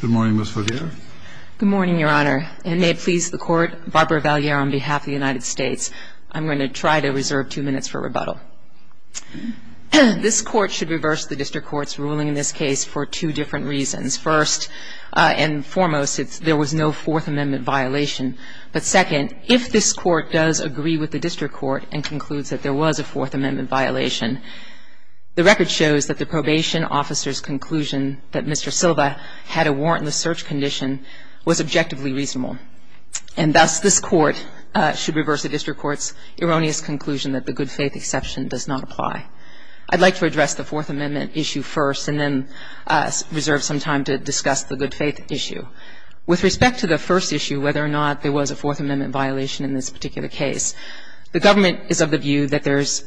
Good morning, Ms. Valliere. Good morning, Your Honor. And may it please the Court, Barbara Valliere on behalf of the United States, I'm going to try to reserve two minutes for rebuttal. This Court should reverse the District Court's ruling in this case for two different reasons. First and foremost, there was no Fourth Amendment violation. But second, if this Court does agree with the District Court and concludes that there was a Fourth Amendment violation, the record shows that the probation officer's conclusion that Mr. Silva had a warrantless search condition was objectively reasonable. And thus, this Court should reverse the District Court's erroneous conclusion that the good faith exception does not apply. I'd like to address the Fourth Amendment issue first and then reserve some time to discuss the good faith issue. With respect to the first issue, whether or not there was a Fourth Amendment violation in this particular case, the government is of the view that there's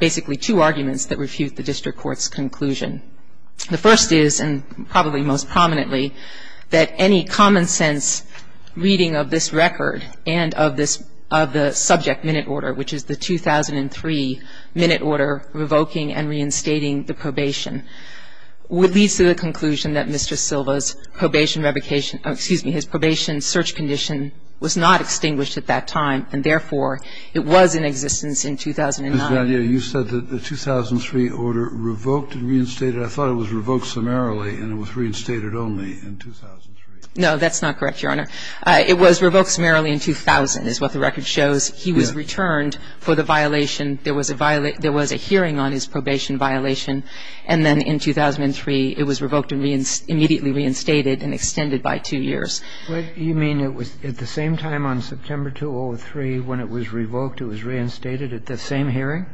basically two arguments that refute the District Court's conclusion. The first is, and probably most prominently, that any common-sense reading of this record and of this of the subject minute order, which is the 2003 minute order revoking and reinstating the probation, would lead to the conclusion that Mr. Silva's probation revocation or, excuse me, his probation search condition was not extinguished at that time, and therefore, it was in existence in 2009. Kennedy, you said that the 2003 order revoked and reinstated. I thought it was revoked summarily and it was reinstated only in 2003. No, that's not correct, Your Honor. It was revoked summarily in 2000, is what the record shows. He was returned for the violation. There was a hearing on his probation violation, and then in 2003, it was revoked and immediately reinstated and extended by two years. You mean it was at the same time on September 2003 when it was revoked, it was reinstated at the same hearing?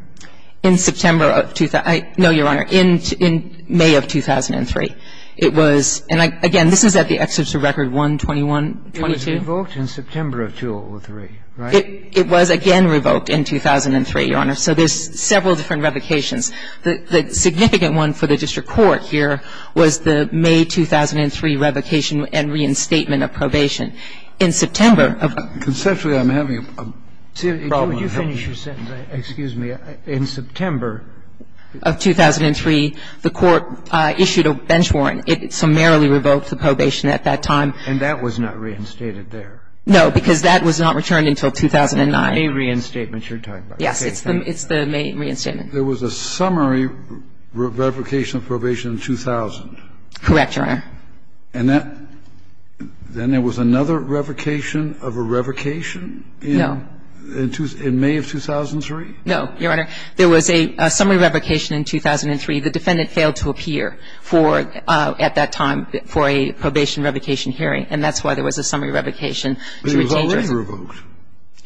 In September of 2000. No, Your Honor. In May of 2003. It was, and again, this is at the excerpts of Record 121, 122. It was revoked in September of 2003, right? It was again revoked in 2003, Your Honor. So there's several different revocations. The significant one for the district court here was the May 2003 revocation and reinstatement of probation. In September of 2003, the court issued a bench warrant. It summarily revoked the probation at that time. And that was not reinstated there? No, because that was not returned until 2009. The May reinstatement you're talking about. Yes, it's the May reinstatement. There was a summary revocation of probation in 2000. Correct, Your Honor. And then there was another revocation of a revocation? No. In May of 2003? No, Your Honor. There was a summary revocation in 2003. The defendant failed to appear for, at that time, for a probation revocation hearing, and that's why there was a summary revocation. But it was already revoked.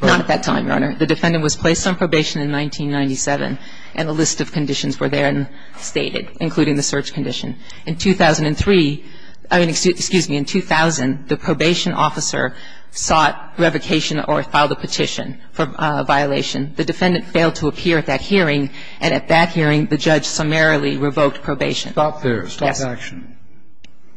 Not at that time, Your Honor. In 2003, the defendant was placed on probation in 1997, and a list of conditions were there and stated, including the search condition. In 2003, I mean, excuse me, in 2000, the probation officer sought revocation or filed a petition for violation. The defendant failed to appear at that hearing, and at that hearing, the judge summarily revoked probation. Stop there. Yes. Stop action.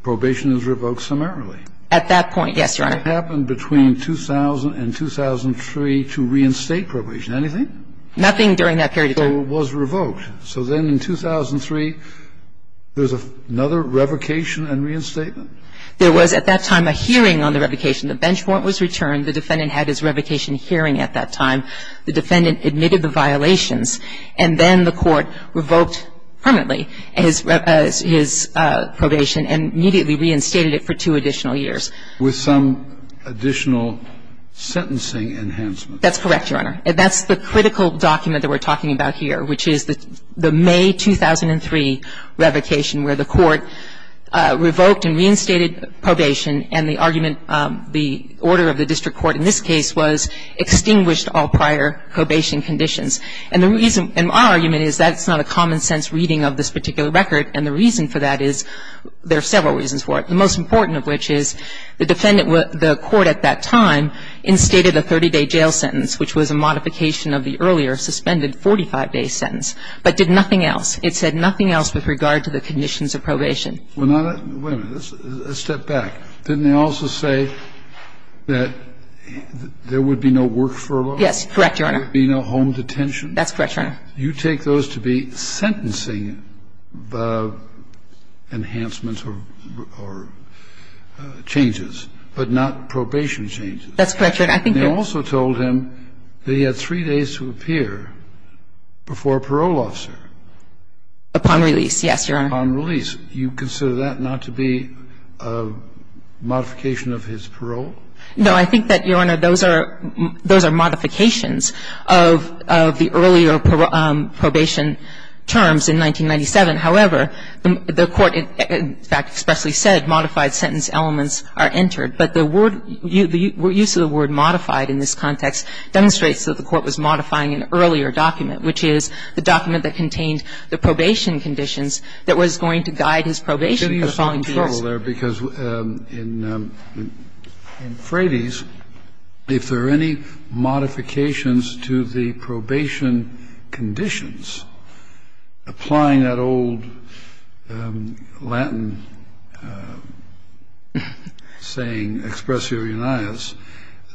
Probation is revoked summarily. At that point, yes, Your Honor. What happened between 2000 and 2003 to reinstate probation? Anything? Nothing during that period of time. So it was revoked. So then in 2003, there's another revocation and reinstatement? There was, at that time, a hearing on the revocation. The bench warrant was returned. The defendant had his revocation hearing at that time. The defendant admitted the violations, and then the court revoked permanently his probation and immediately reinstated it for two additional years. With some additional sentencing enhancement? That's correct, Your Honor. That's the critical document that we're talking about here, which is the May 2003 revocation where the court revoked and reinstated probation, and the argument the order of the district court in this case was extinguished all prior probation conditions. And the reason my argument is that's not a common-sense reading of this particular record, and the reason for that is there are several reasons for it, the most important of which is the defendant, the court at that time, instated a 30-day jail sentence, which was a modification of the earlier suspended 45-day sentence, but did nothing else. It said nothing else with regard to the conditions of probation. Wait a minute. Let's step back. Didn't they also say that there would be no work furlough? Yes, correct, Your Honor. There would be no home detention? That's correct, Your Honor. You take those to be sentencing enhancements or changes, but not probation changes. That's correct, Your Honor. They also told him that he had three days to appear before a parole officer. Upon release, yes, Your Honor. Upon release. You consider that not to be a modification of his parole? No, I think that, Your Honor, those are modifications of the earlier probation terms in 1997. However, the court, in fact, expressly said modified sentence elements are entered. But the word, the use of the word modified in this context demonstrates that the court was modifying an earlier document, which is the document that contained the probation conditions that was going to guide his probation for the following two years. Let me follow there, because in Frady's, if there are any modifications to the probation conditions, applying that old Latin saying, expressio unias,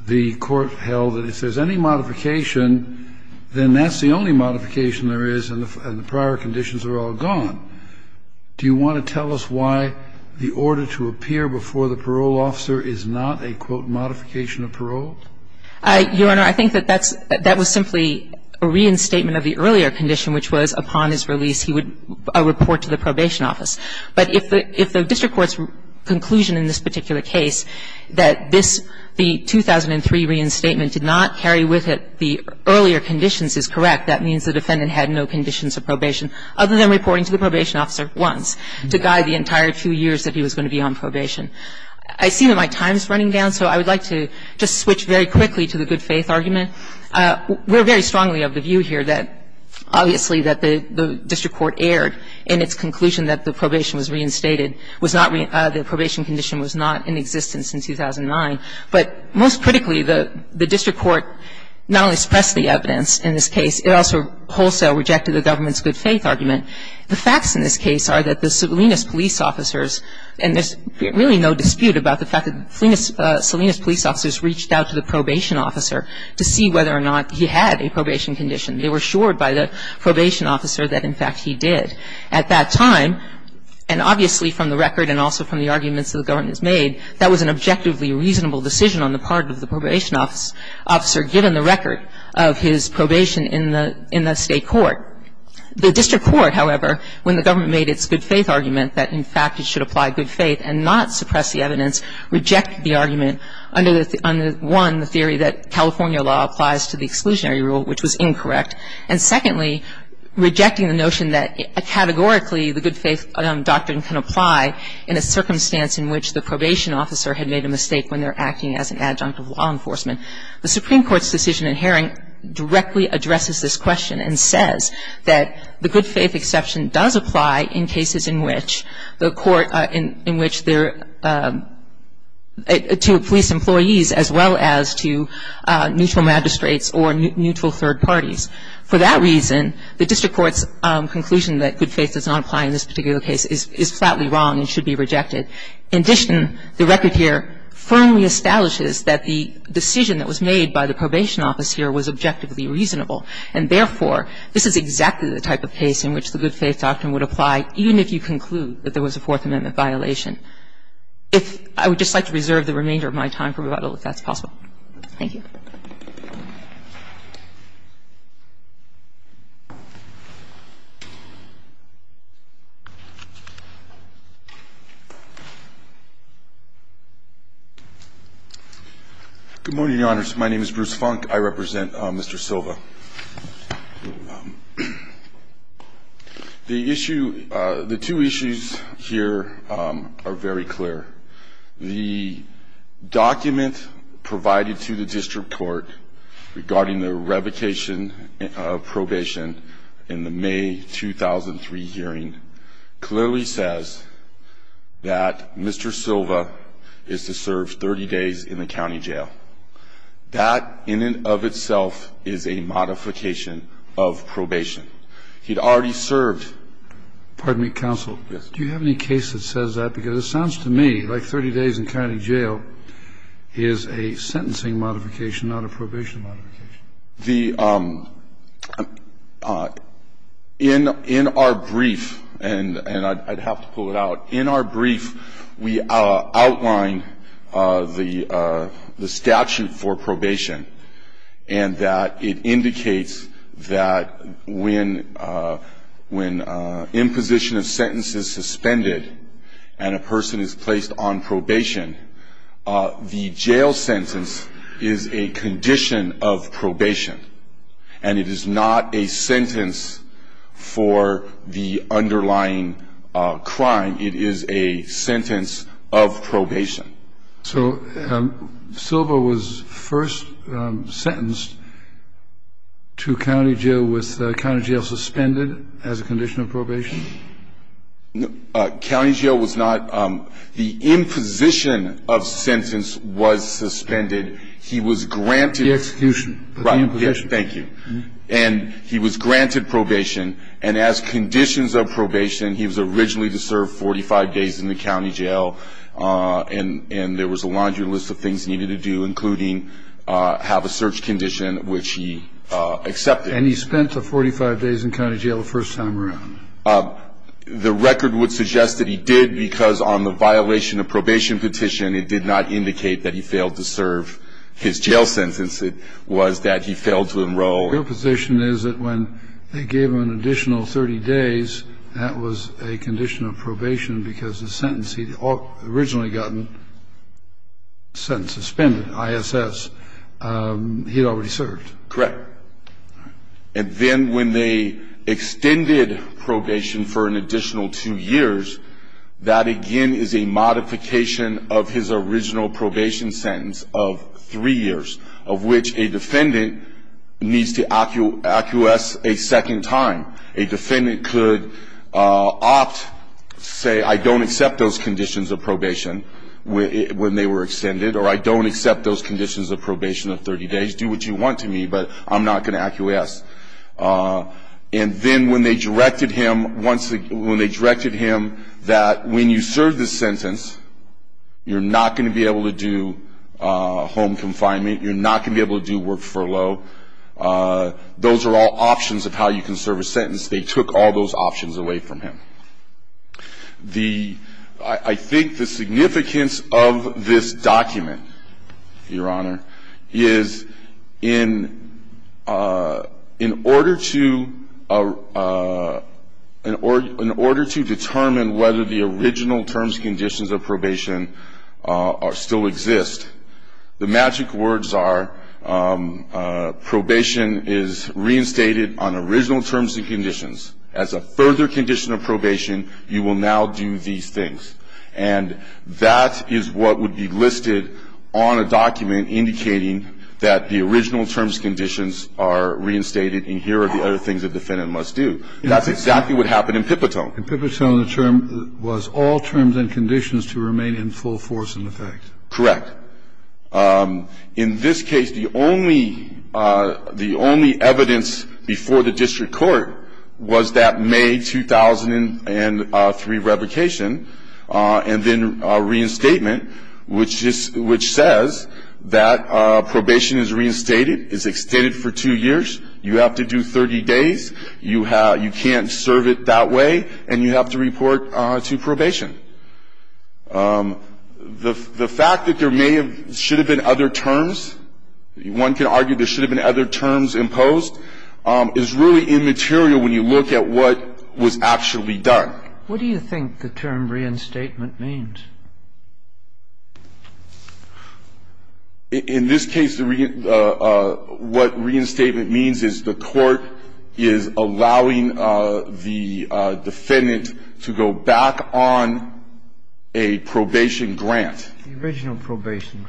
the court held that if there's any modification, then that's the only modification there is, and the prior conditions are all gone. Do you want to tell us why the order to appear before the parole officer is not a, quote, modification of parole? Your Honor, I think that that's, that was simply a reinstatement of the earlier condition, which was upon his release he would report to the probation office. But if the district court's conclusion in this particular case that this, the 2003 reinstatement did not carry with it the earlier conditions is correct, that means the defendant had no conditions of probation other than reporting to the probation officer once to guide the entire few years that he was going to be on probation. I see that my time is running down, so I would like to just switch very quickly to the good faith argument. We're very strongly of the view here that obviously that the district court erred in its conclusion that the probation was reinstated, was not, the probation condition was not in existence since 2009. But most critically, the district court not only suppressed the evidence in this case, it also wholesale rejected the government's good faith argument. The facts in this case are that the Salinas police officers, and there's really no dispute about the fact that Salinas police officers reached out to the probation officer to see whether or not he had a probation condition. They were assured by the probation officer that, in fact, he did. At that time, and obviously from the record and also from the arguments that the district court made, the district court did not make a reasonable decision on the part of the probation officer given the record of his probation in the state court. The district court, however, when the government made its good faith argument that, in fact, it should apply good faith and not suppress the evidence, rejected the argument under, one, the theory that California law applies to the exclusionary rule, which was incorrect. And secondly, rejecting the notion that categorically the good faith doctrine can apply in a circumstance in which the probation officer had made a mistake when they're acting as an adjunct of law enforcement. The Supreme Court's decision in Herring directly addresses this question and says that the good faith exception does apply in cases in which the court, in which they're to police employees as well as to neutral magistrates or neutral third parties. For that reason, the district court's conclusion that good faith does not apply in this particular case is flatly wrong and should be rejected. In addition, the record here firmly establishes that the decision that was made by the probation officer was objectively reasonable, and therefore, this is exactly the type of case in which the good faith doctrine would apply even if you conclude that there was a Fourth Amendment violation. If I would just like to reserve the remainder of my time for rebuttal, if that's possible. Thank you. Good morning, Your Honors. My name is Bruce Funk. I represent Mr. Silva. The issue, the two issues here are very clear. The document provided to the district court regarding the revocation of probation in the May 2003 hearing clearly says that Mr. Silva is to serve 30 days in the county jail. That in and of itself is a modification of probation. He had already served. Pardon me, counsel. Yes. Do you have any case that says that? Because it sounds to me like 30 days in county jail is a sentencing modification, not a probation modification. The – in our brief, and I'd have to pull it out, in our brief, we outline the statute and that it indicates that when imposition of sentence is suspended and a person is placed on probation, the jail sentence is a condition of probation. And it is not a sentence for the underlying crime. It is a sentence of probation. So Silva was first sentenced to county jail with county jail suspended as a condition of probation? No. County jail was not – the imposition of sentence was suspended. He was granted – The execution of the imposition. Right. Thank you. And he was granted probation. And as conditions of probation, he was granted probation because he served county jail. He was granted probation because he served county jail. And there was a laundry list of things needed to do including have a search condition, which he accepted. And he spent the 45 days in county jail the first time around. The record would suggest that he did because on the violation of probation petition, it did not indicate that he failed to serve his jail sentence. It was that he failed to enroll. Your position is that when they gave him an additional 30 days, that was a condition of probation because the sentence he'd originally gotten, sentence suspended, ISS, he'd already served. Correct. And then when they extended probation for an additional two years, that again is a modification of his original probation sentence of three years, of which a defendant needs to acquiesce a second time. A defendant could opt, say, I don't accept those conditions of probation when they were extended, or I don't accept those conditions of probation of 30 days. Do what you want to me, but I'm not going to acquiesce. And then when they directed him that when you serve this sentence, you're not going to be able to do home confinement. You're not going to be able to do work furlough. Those are all options of how you can serve a sentence. They took all those options away from him. I think the significance of this document, Your Honor, is in order to determine whether the original terms and conditions of probation still exist, the magic words are probation is reinstated on original terms and conditions. As a further condition of probation, you will now do these things. And that is what would be listed on a document indicating that the original terms and conditions are reinstated and here are the other things a defendant must do. That's exactly what happened in Pipitone. In Pipitone, the term was all terms and conditions to remain in full force and effect. Correct. In this case, the only evidence before the district court was that May 2003 revocation and then reinstatement, which says that probation is reinstated, is extended for two years, you have to do 30 days, you can't serve it that way, and you have to report to probation. The fact that there may have been other terms, one can argue there should have been other terms imposed, is really immaterial when you look at what was actually done. What do you think the term reinstatement means? In this case, what reinstatement means is the court is allowing the defendant to go back on a probation grant. The original probation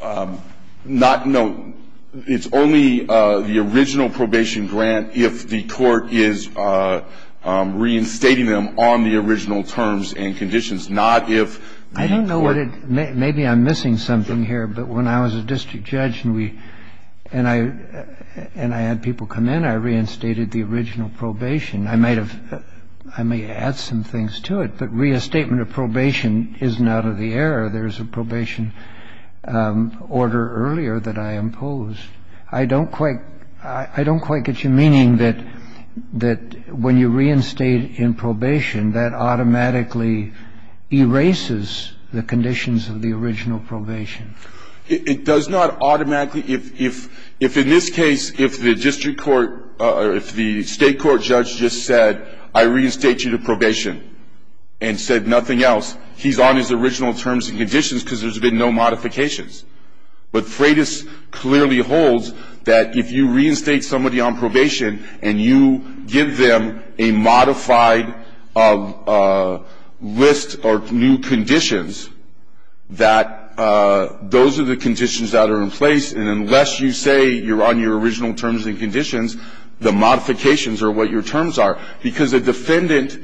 grant. Not no. It's only the original probation grant if the court is reinstating them on the original terms and conditions, not if the court. I don't know what it, maybe I'm missing something here, but when I was a district judge and we, and I, and I had people come in, I reinstated the original probation. I might have, I may add some things to it, but re-estatement of probation isn't out of the air. It's not out of the air. There's a probation order earlier that I imposed. I don't quite, I don't quite get your meaning that, that when you reinstate in probation, that automatically erases the conditions of the original probation. It does not automatically, if, if, if in this case, if the district court or if the State court judge just said I reinstate you to probation and said nothing else, he's on his original terms and conditions because there's been no modifications. But Freitas clearly holds that if you reinstate somebody on probation and you give them a modified list of new conditions, that those are the conditions that are in place, and unless you say you're on your original terms and conditions, the modifications are what your terms are. Because the defendant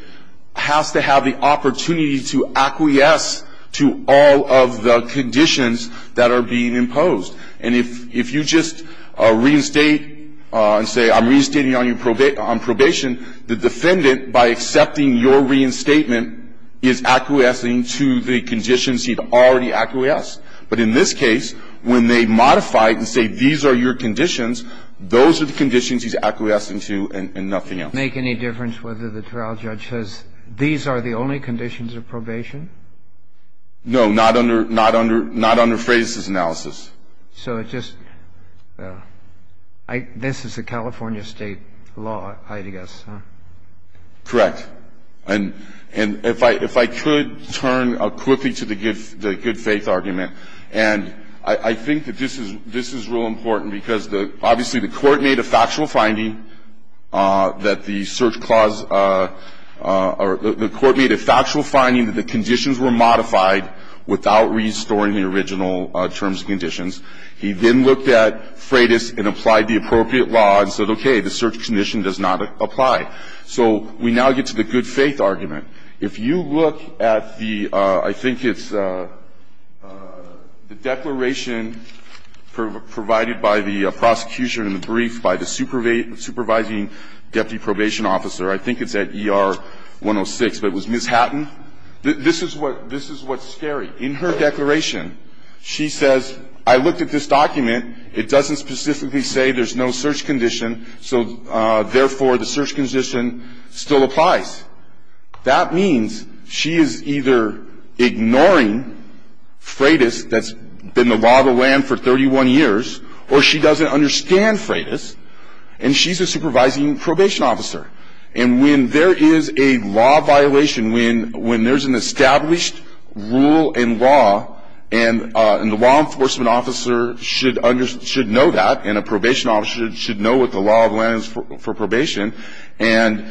has to have the opportunity to acquiesce to all of the conditions that are being imposed. And if, if you just reinstate and say I'm reinstating you on probation, the defendant by accepting your reinstatement is acquiescing to the conditions he'd already acquiesced. But in this case, when they modify it and say these are your conditions, those are the conditions he's acquiescing to and nothing else. And so it doesn't make any difference whether the trial judge says these are the only conditions of probation? No, not under, not under, not under Freitas's analysis. So it just I, this is a California State law, I guess, huh? Correct. And, and if I, if I could turn quickly to the good, the good-faith argument, and I, I think that this is, this is real important because the, obviously the court made a factual finding that the search clause, or the court made a factual finding that the conditions were modified without restoring the original terms and conditions. He then looked at Freitas and applied the appropriate law and said, okay, the search condition does not apply. So we now get to the good-faith argument. If you look at the, I think it's the declaration provided by the prosecution in the brief by the supervising deputy probation officer. I think it's at ER 106, but it was Ms. Hatton. This is what, this is what's scary. In her declaration, she says, I looked at this document. It doesn't specifically say there's no search condition. So therefore, the search condition still applies. That means she is either ignoring Freitas, that's been the law of the land for 31 years, or she doesn't understand Freitas, and she's a supervising probation officer. And when there is a law violation, when, when there's an established rule in law, and the law enforcement officer should know that, and a probation officer should know what the law of the land is for probation, and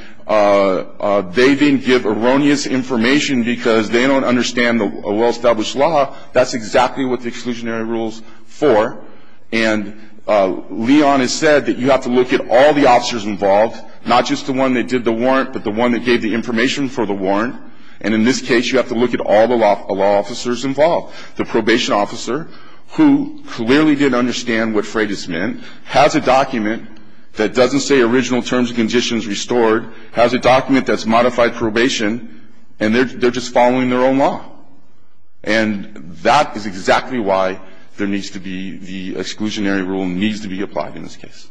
they then give erroneous information because they don't understand a well-established law, that's exactly what the exclusionary rule's for. And Leon has said that you have to look at all the officers involved, not just the one that did the warrant, but the one that gave the information for the warrant. And in this case, you have to look at all the law officers involved. The probation officer, who clearly didn't understand what Freitas meant, has a document that doesn't say original terms and conditions restored, has a document that's modified probation, and they're just following their own law. And that is exactly why there needs to be the exclusionary rule needs to be applied in this case.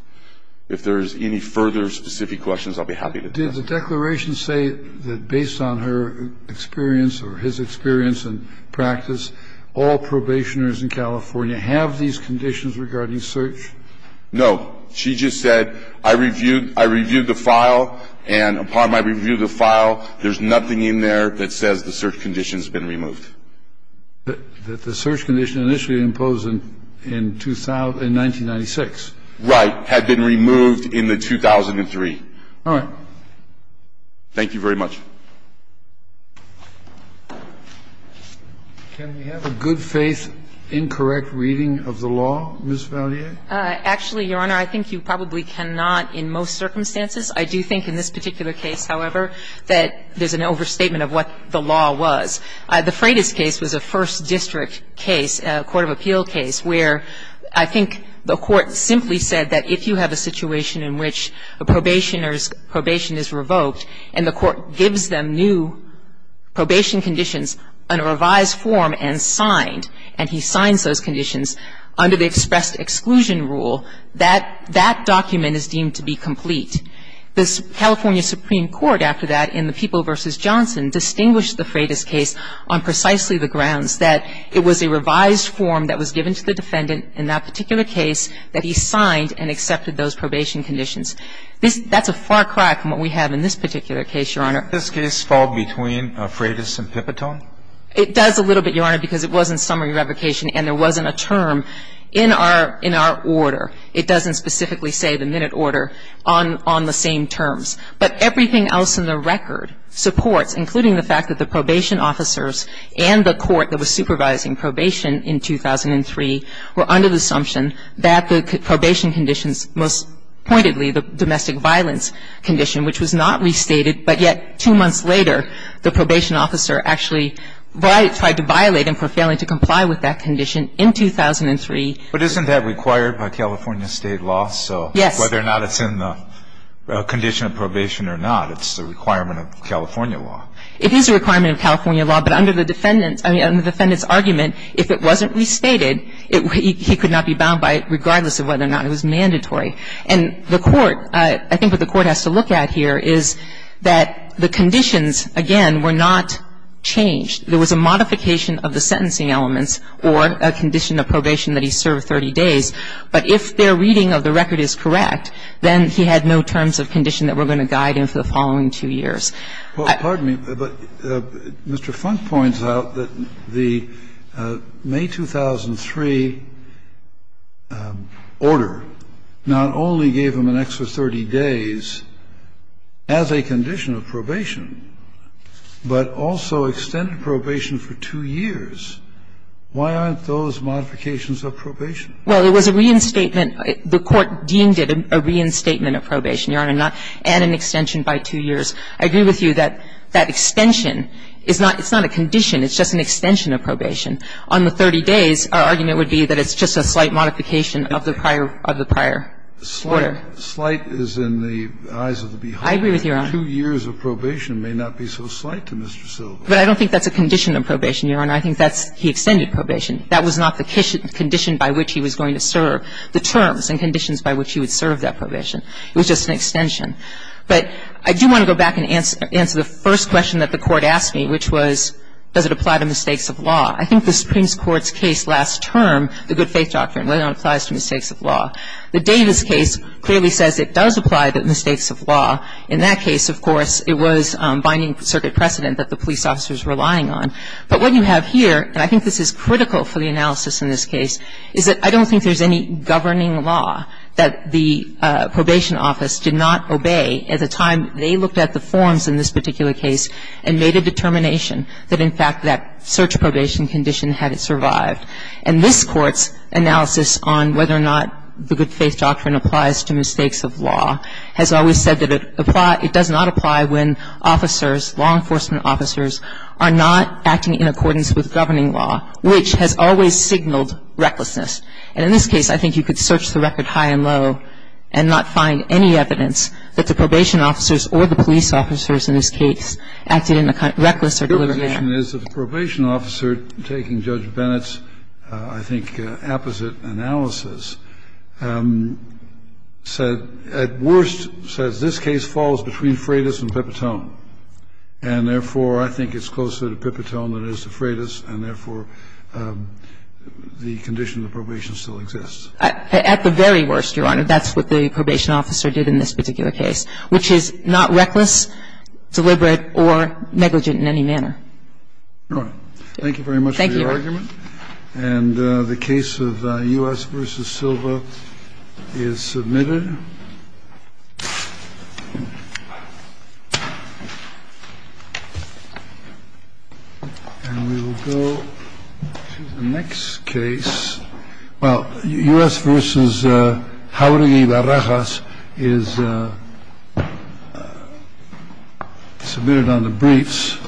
If there's any further specific questions, I'll be happy to do that. Kennedy. Did the declaration say that based on her experience or his experience and practice, all probationers in California have these conditions regarding search? No. She just said, I reviewed the file, and upon my review of the file, there's nothing in there that says the search condition's been removed. But the search condition initially imposed in 1996. Right. Had been removed in the 2003. All right. Thank you very much. Can we have a good-faith, incorrect reading of the law, Ms. Valier? Actually, Your Honor, I think you probably cannot in most circumstances. I do think in this particular case, however, that there's an overstatement of what the law was. The Freitas case was a First District case, a court of appeal case, where I think the Court simply said that if you have a situation in which a probationer's probation conditions under revised form and signed, and he signs those conditions under the expressed exclusion rule, that that document is deemed to be complete. The California Supreme Court after that in the People v. Johnson distinguished the Freitas case on precisely the grounds that it was a revised form that was given to the defendant in that particular case that he signed and accepted those probation conditions. That's a far cry from what we have in this particular case, Your Honor. Can't this case fall between Freitas and Pipitone? It does a little bit, Your Honor, because it wasn't summary revocation and there wasn't a term in our order. It doesn't specifically say the minute order on the same terms. But everything else in the record supports, including the fact that the probation officers and the court that was supervising probation in 2003 were under the assumption that the probation conditions most pointedly, the domestic violence condition, which was not restated, but yet two months later the probation officer actually tried to violate him for failing to comply with that condition in 2003. But isn't that required by California state law? Yes. So whether or not it's in the condition of probation or not, it's a requirement of California law. It is a requirement of California law, but under the defendant's argument, if it wasn't restated, he could not be bound by it regardless of whether or not it was mandatory. And the court, I think what the court has to look at here is that the conditions, again, were not changed. There was a modification of the sentencing elements or a condition of probation that he served 30 days, but if their reading of the record is correct, then he had no terms of condition that were going to guide him for the following two years. Well, pardon me, but Mr. Funk points out that the May 2003 order not only gave him an extra 30 days as a condition of probation, but also extended probation for two years. Why aren't those modifications of probation? Well, it was a reinstatement. The court deemed it a reinstatement of probation, Your Honor, and an extension by two years. I agree with you that that extension is not – it's not a condition. It's just an extension of probation. On the 30 days, our argument would be that it's just a slight modification of the prior – of the prior order. Slight is in the eyes of the beholder. I agree with you, Your Honor. Two years of probation may not be so slight to Mr. Silva. But I don't think that's a condition of probation, Your Honor. I think that's – he extended probation. That was not the condition by which he was going to serve the terms and conditions by which he would serve that probation. It was just an extension. But I do want to go back and answer the first question that the Court asked me, which was does it apply to mistakes of law. I think the Supreme Court's case last term, the good faith doctrine, really only applies to mistakes of law. The Davis case clearly says it does apply to mistakes of law. In that case, of course, it was binding circuit precedent that the police officers were relying on. But what you have here, and I think this is critical for the analysis in this case, is that I don't think there's any governing law that the probation office did not obey at the time they looked at the forms in this particular case and made a determination that, in fact, that search probation condition had survived. And this Court's analysis on whether or not the good faith doctrine applies to mistakes of law has always said that it does not apply when officers, law enforcement officers, are not acting in accordance with governing law, which has always signaled recklessness. And in this case, I think you could search the record high and low and not find any evidence that the probation officers or the police officers in this case acted in a kind of reckless or deliberate manner. Kennedy. The probation officer, taking Judge Bennett's, I think, opposite analysis, said, at worst, says this case falls between Freitas and Pipitone. And, therefore, I think it's closer to Pipitone than it is to Freitas. And, therefore, the condition of the probation still exists. At the very worst, Your Honor. That's what the probation officer did in this particular case, which is not reckless, deliberate, or negligent in any manner. All right. Thank you very much for your argument. Thank you, Your Honor. And the case of U.S. v. Silva is submitted. And we will go to the next case. Well, U.S. v. Jauregui Barajas is submitted on the briefs.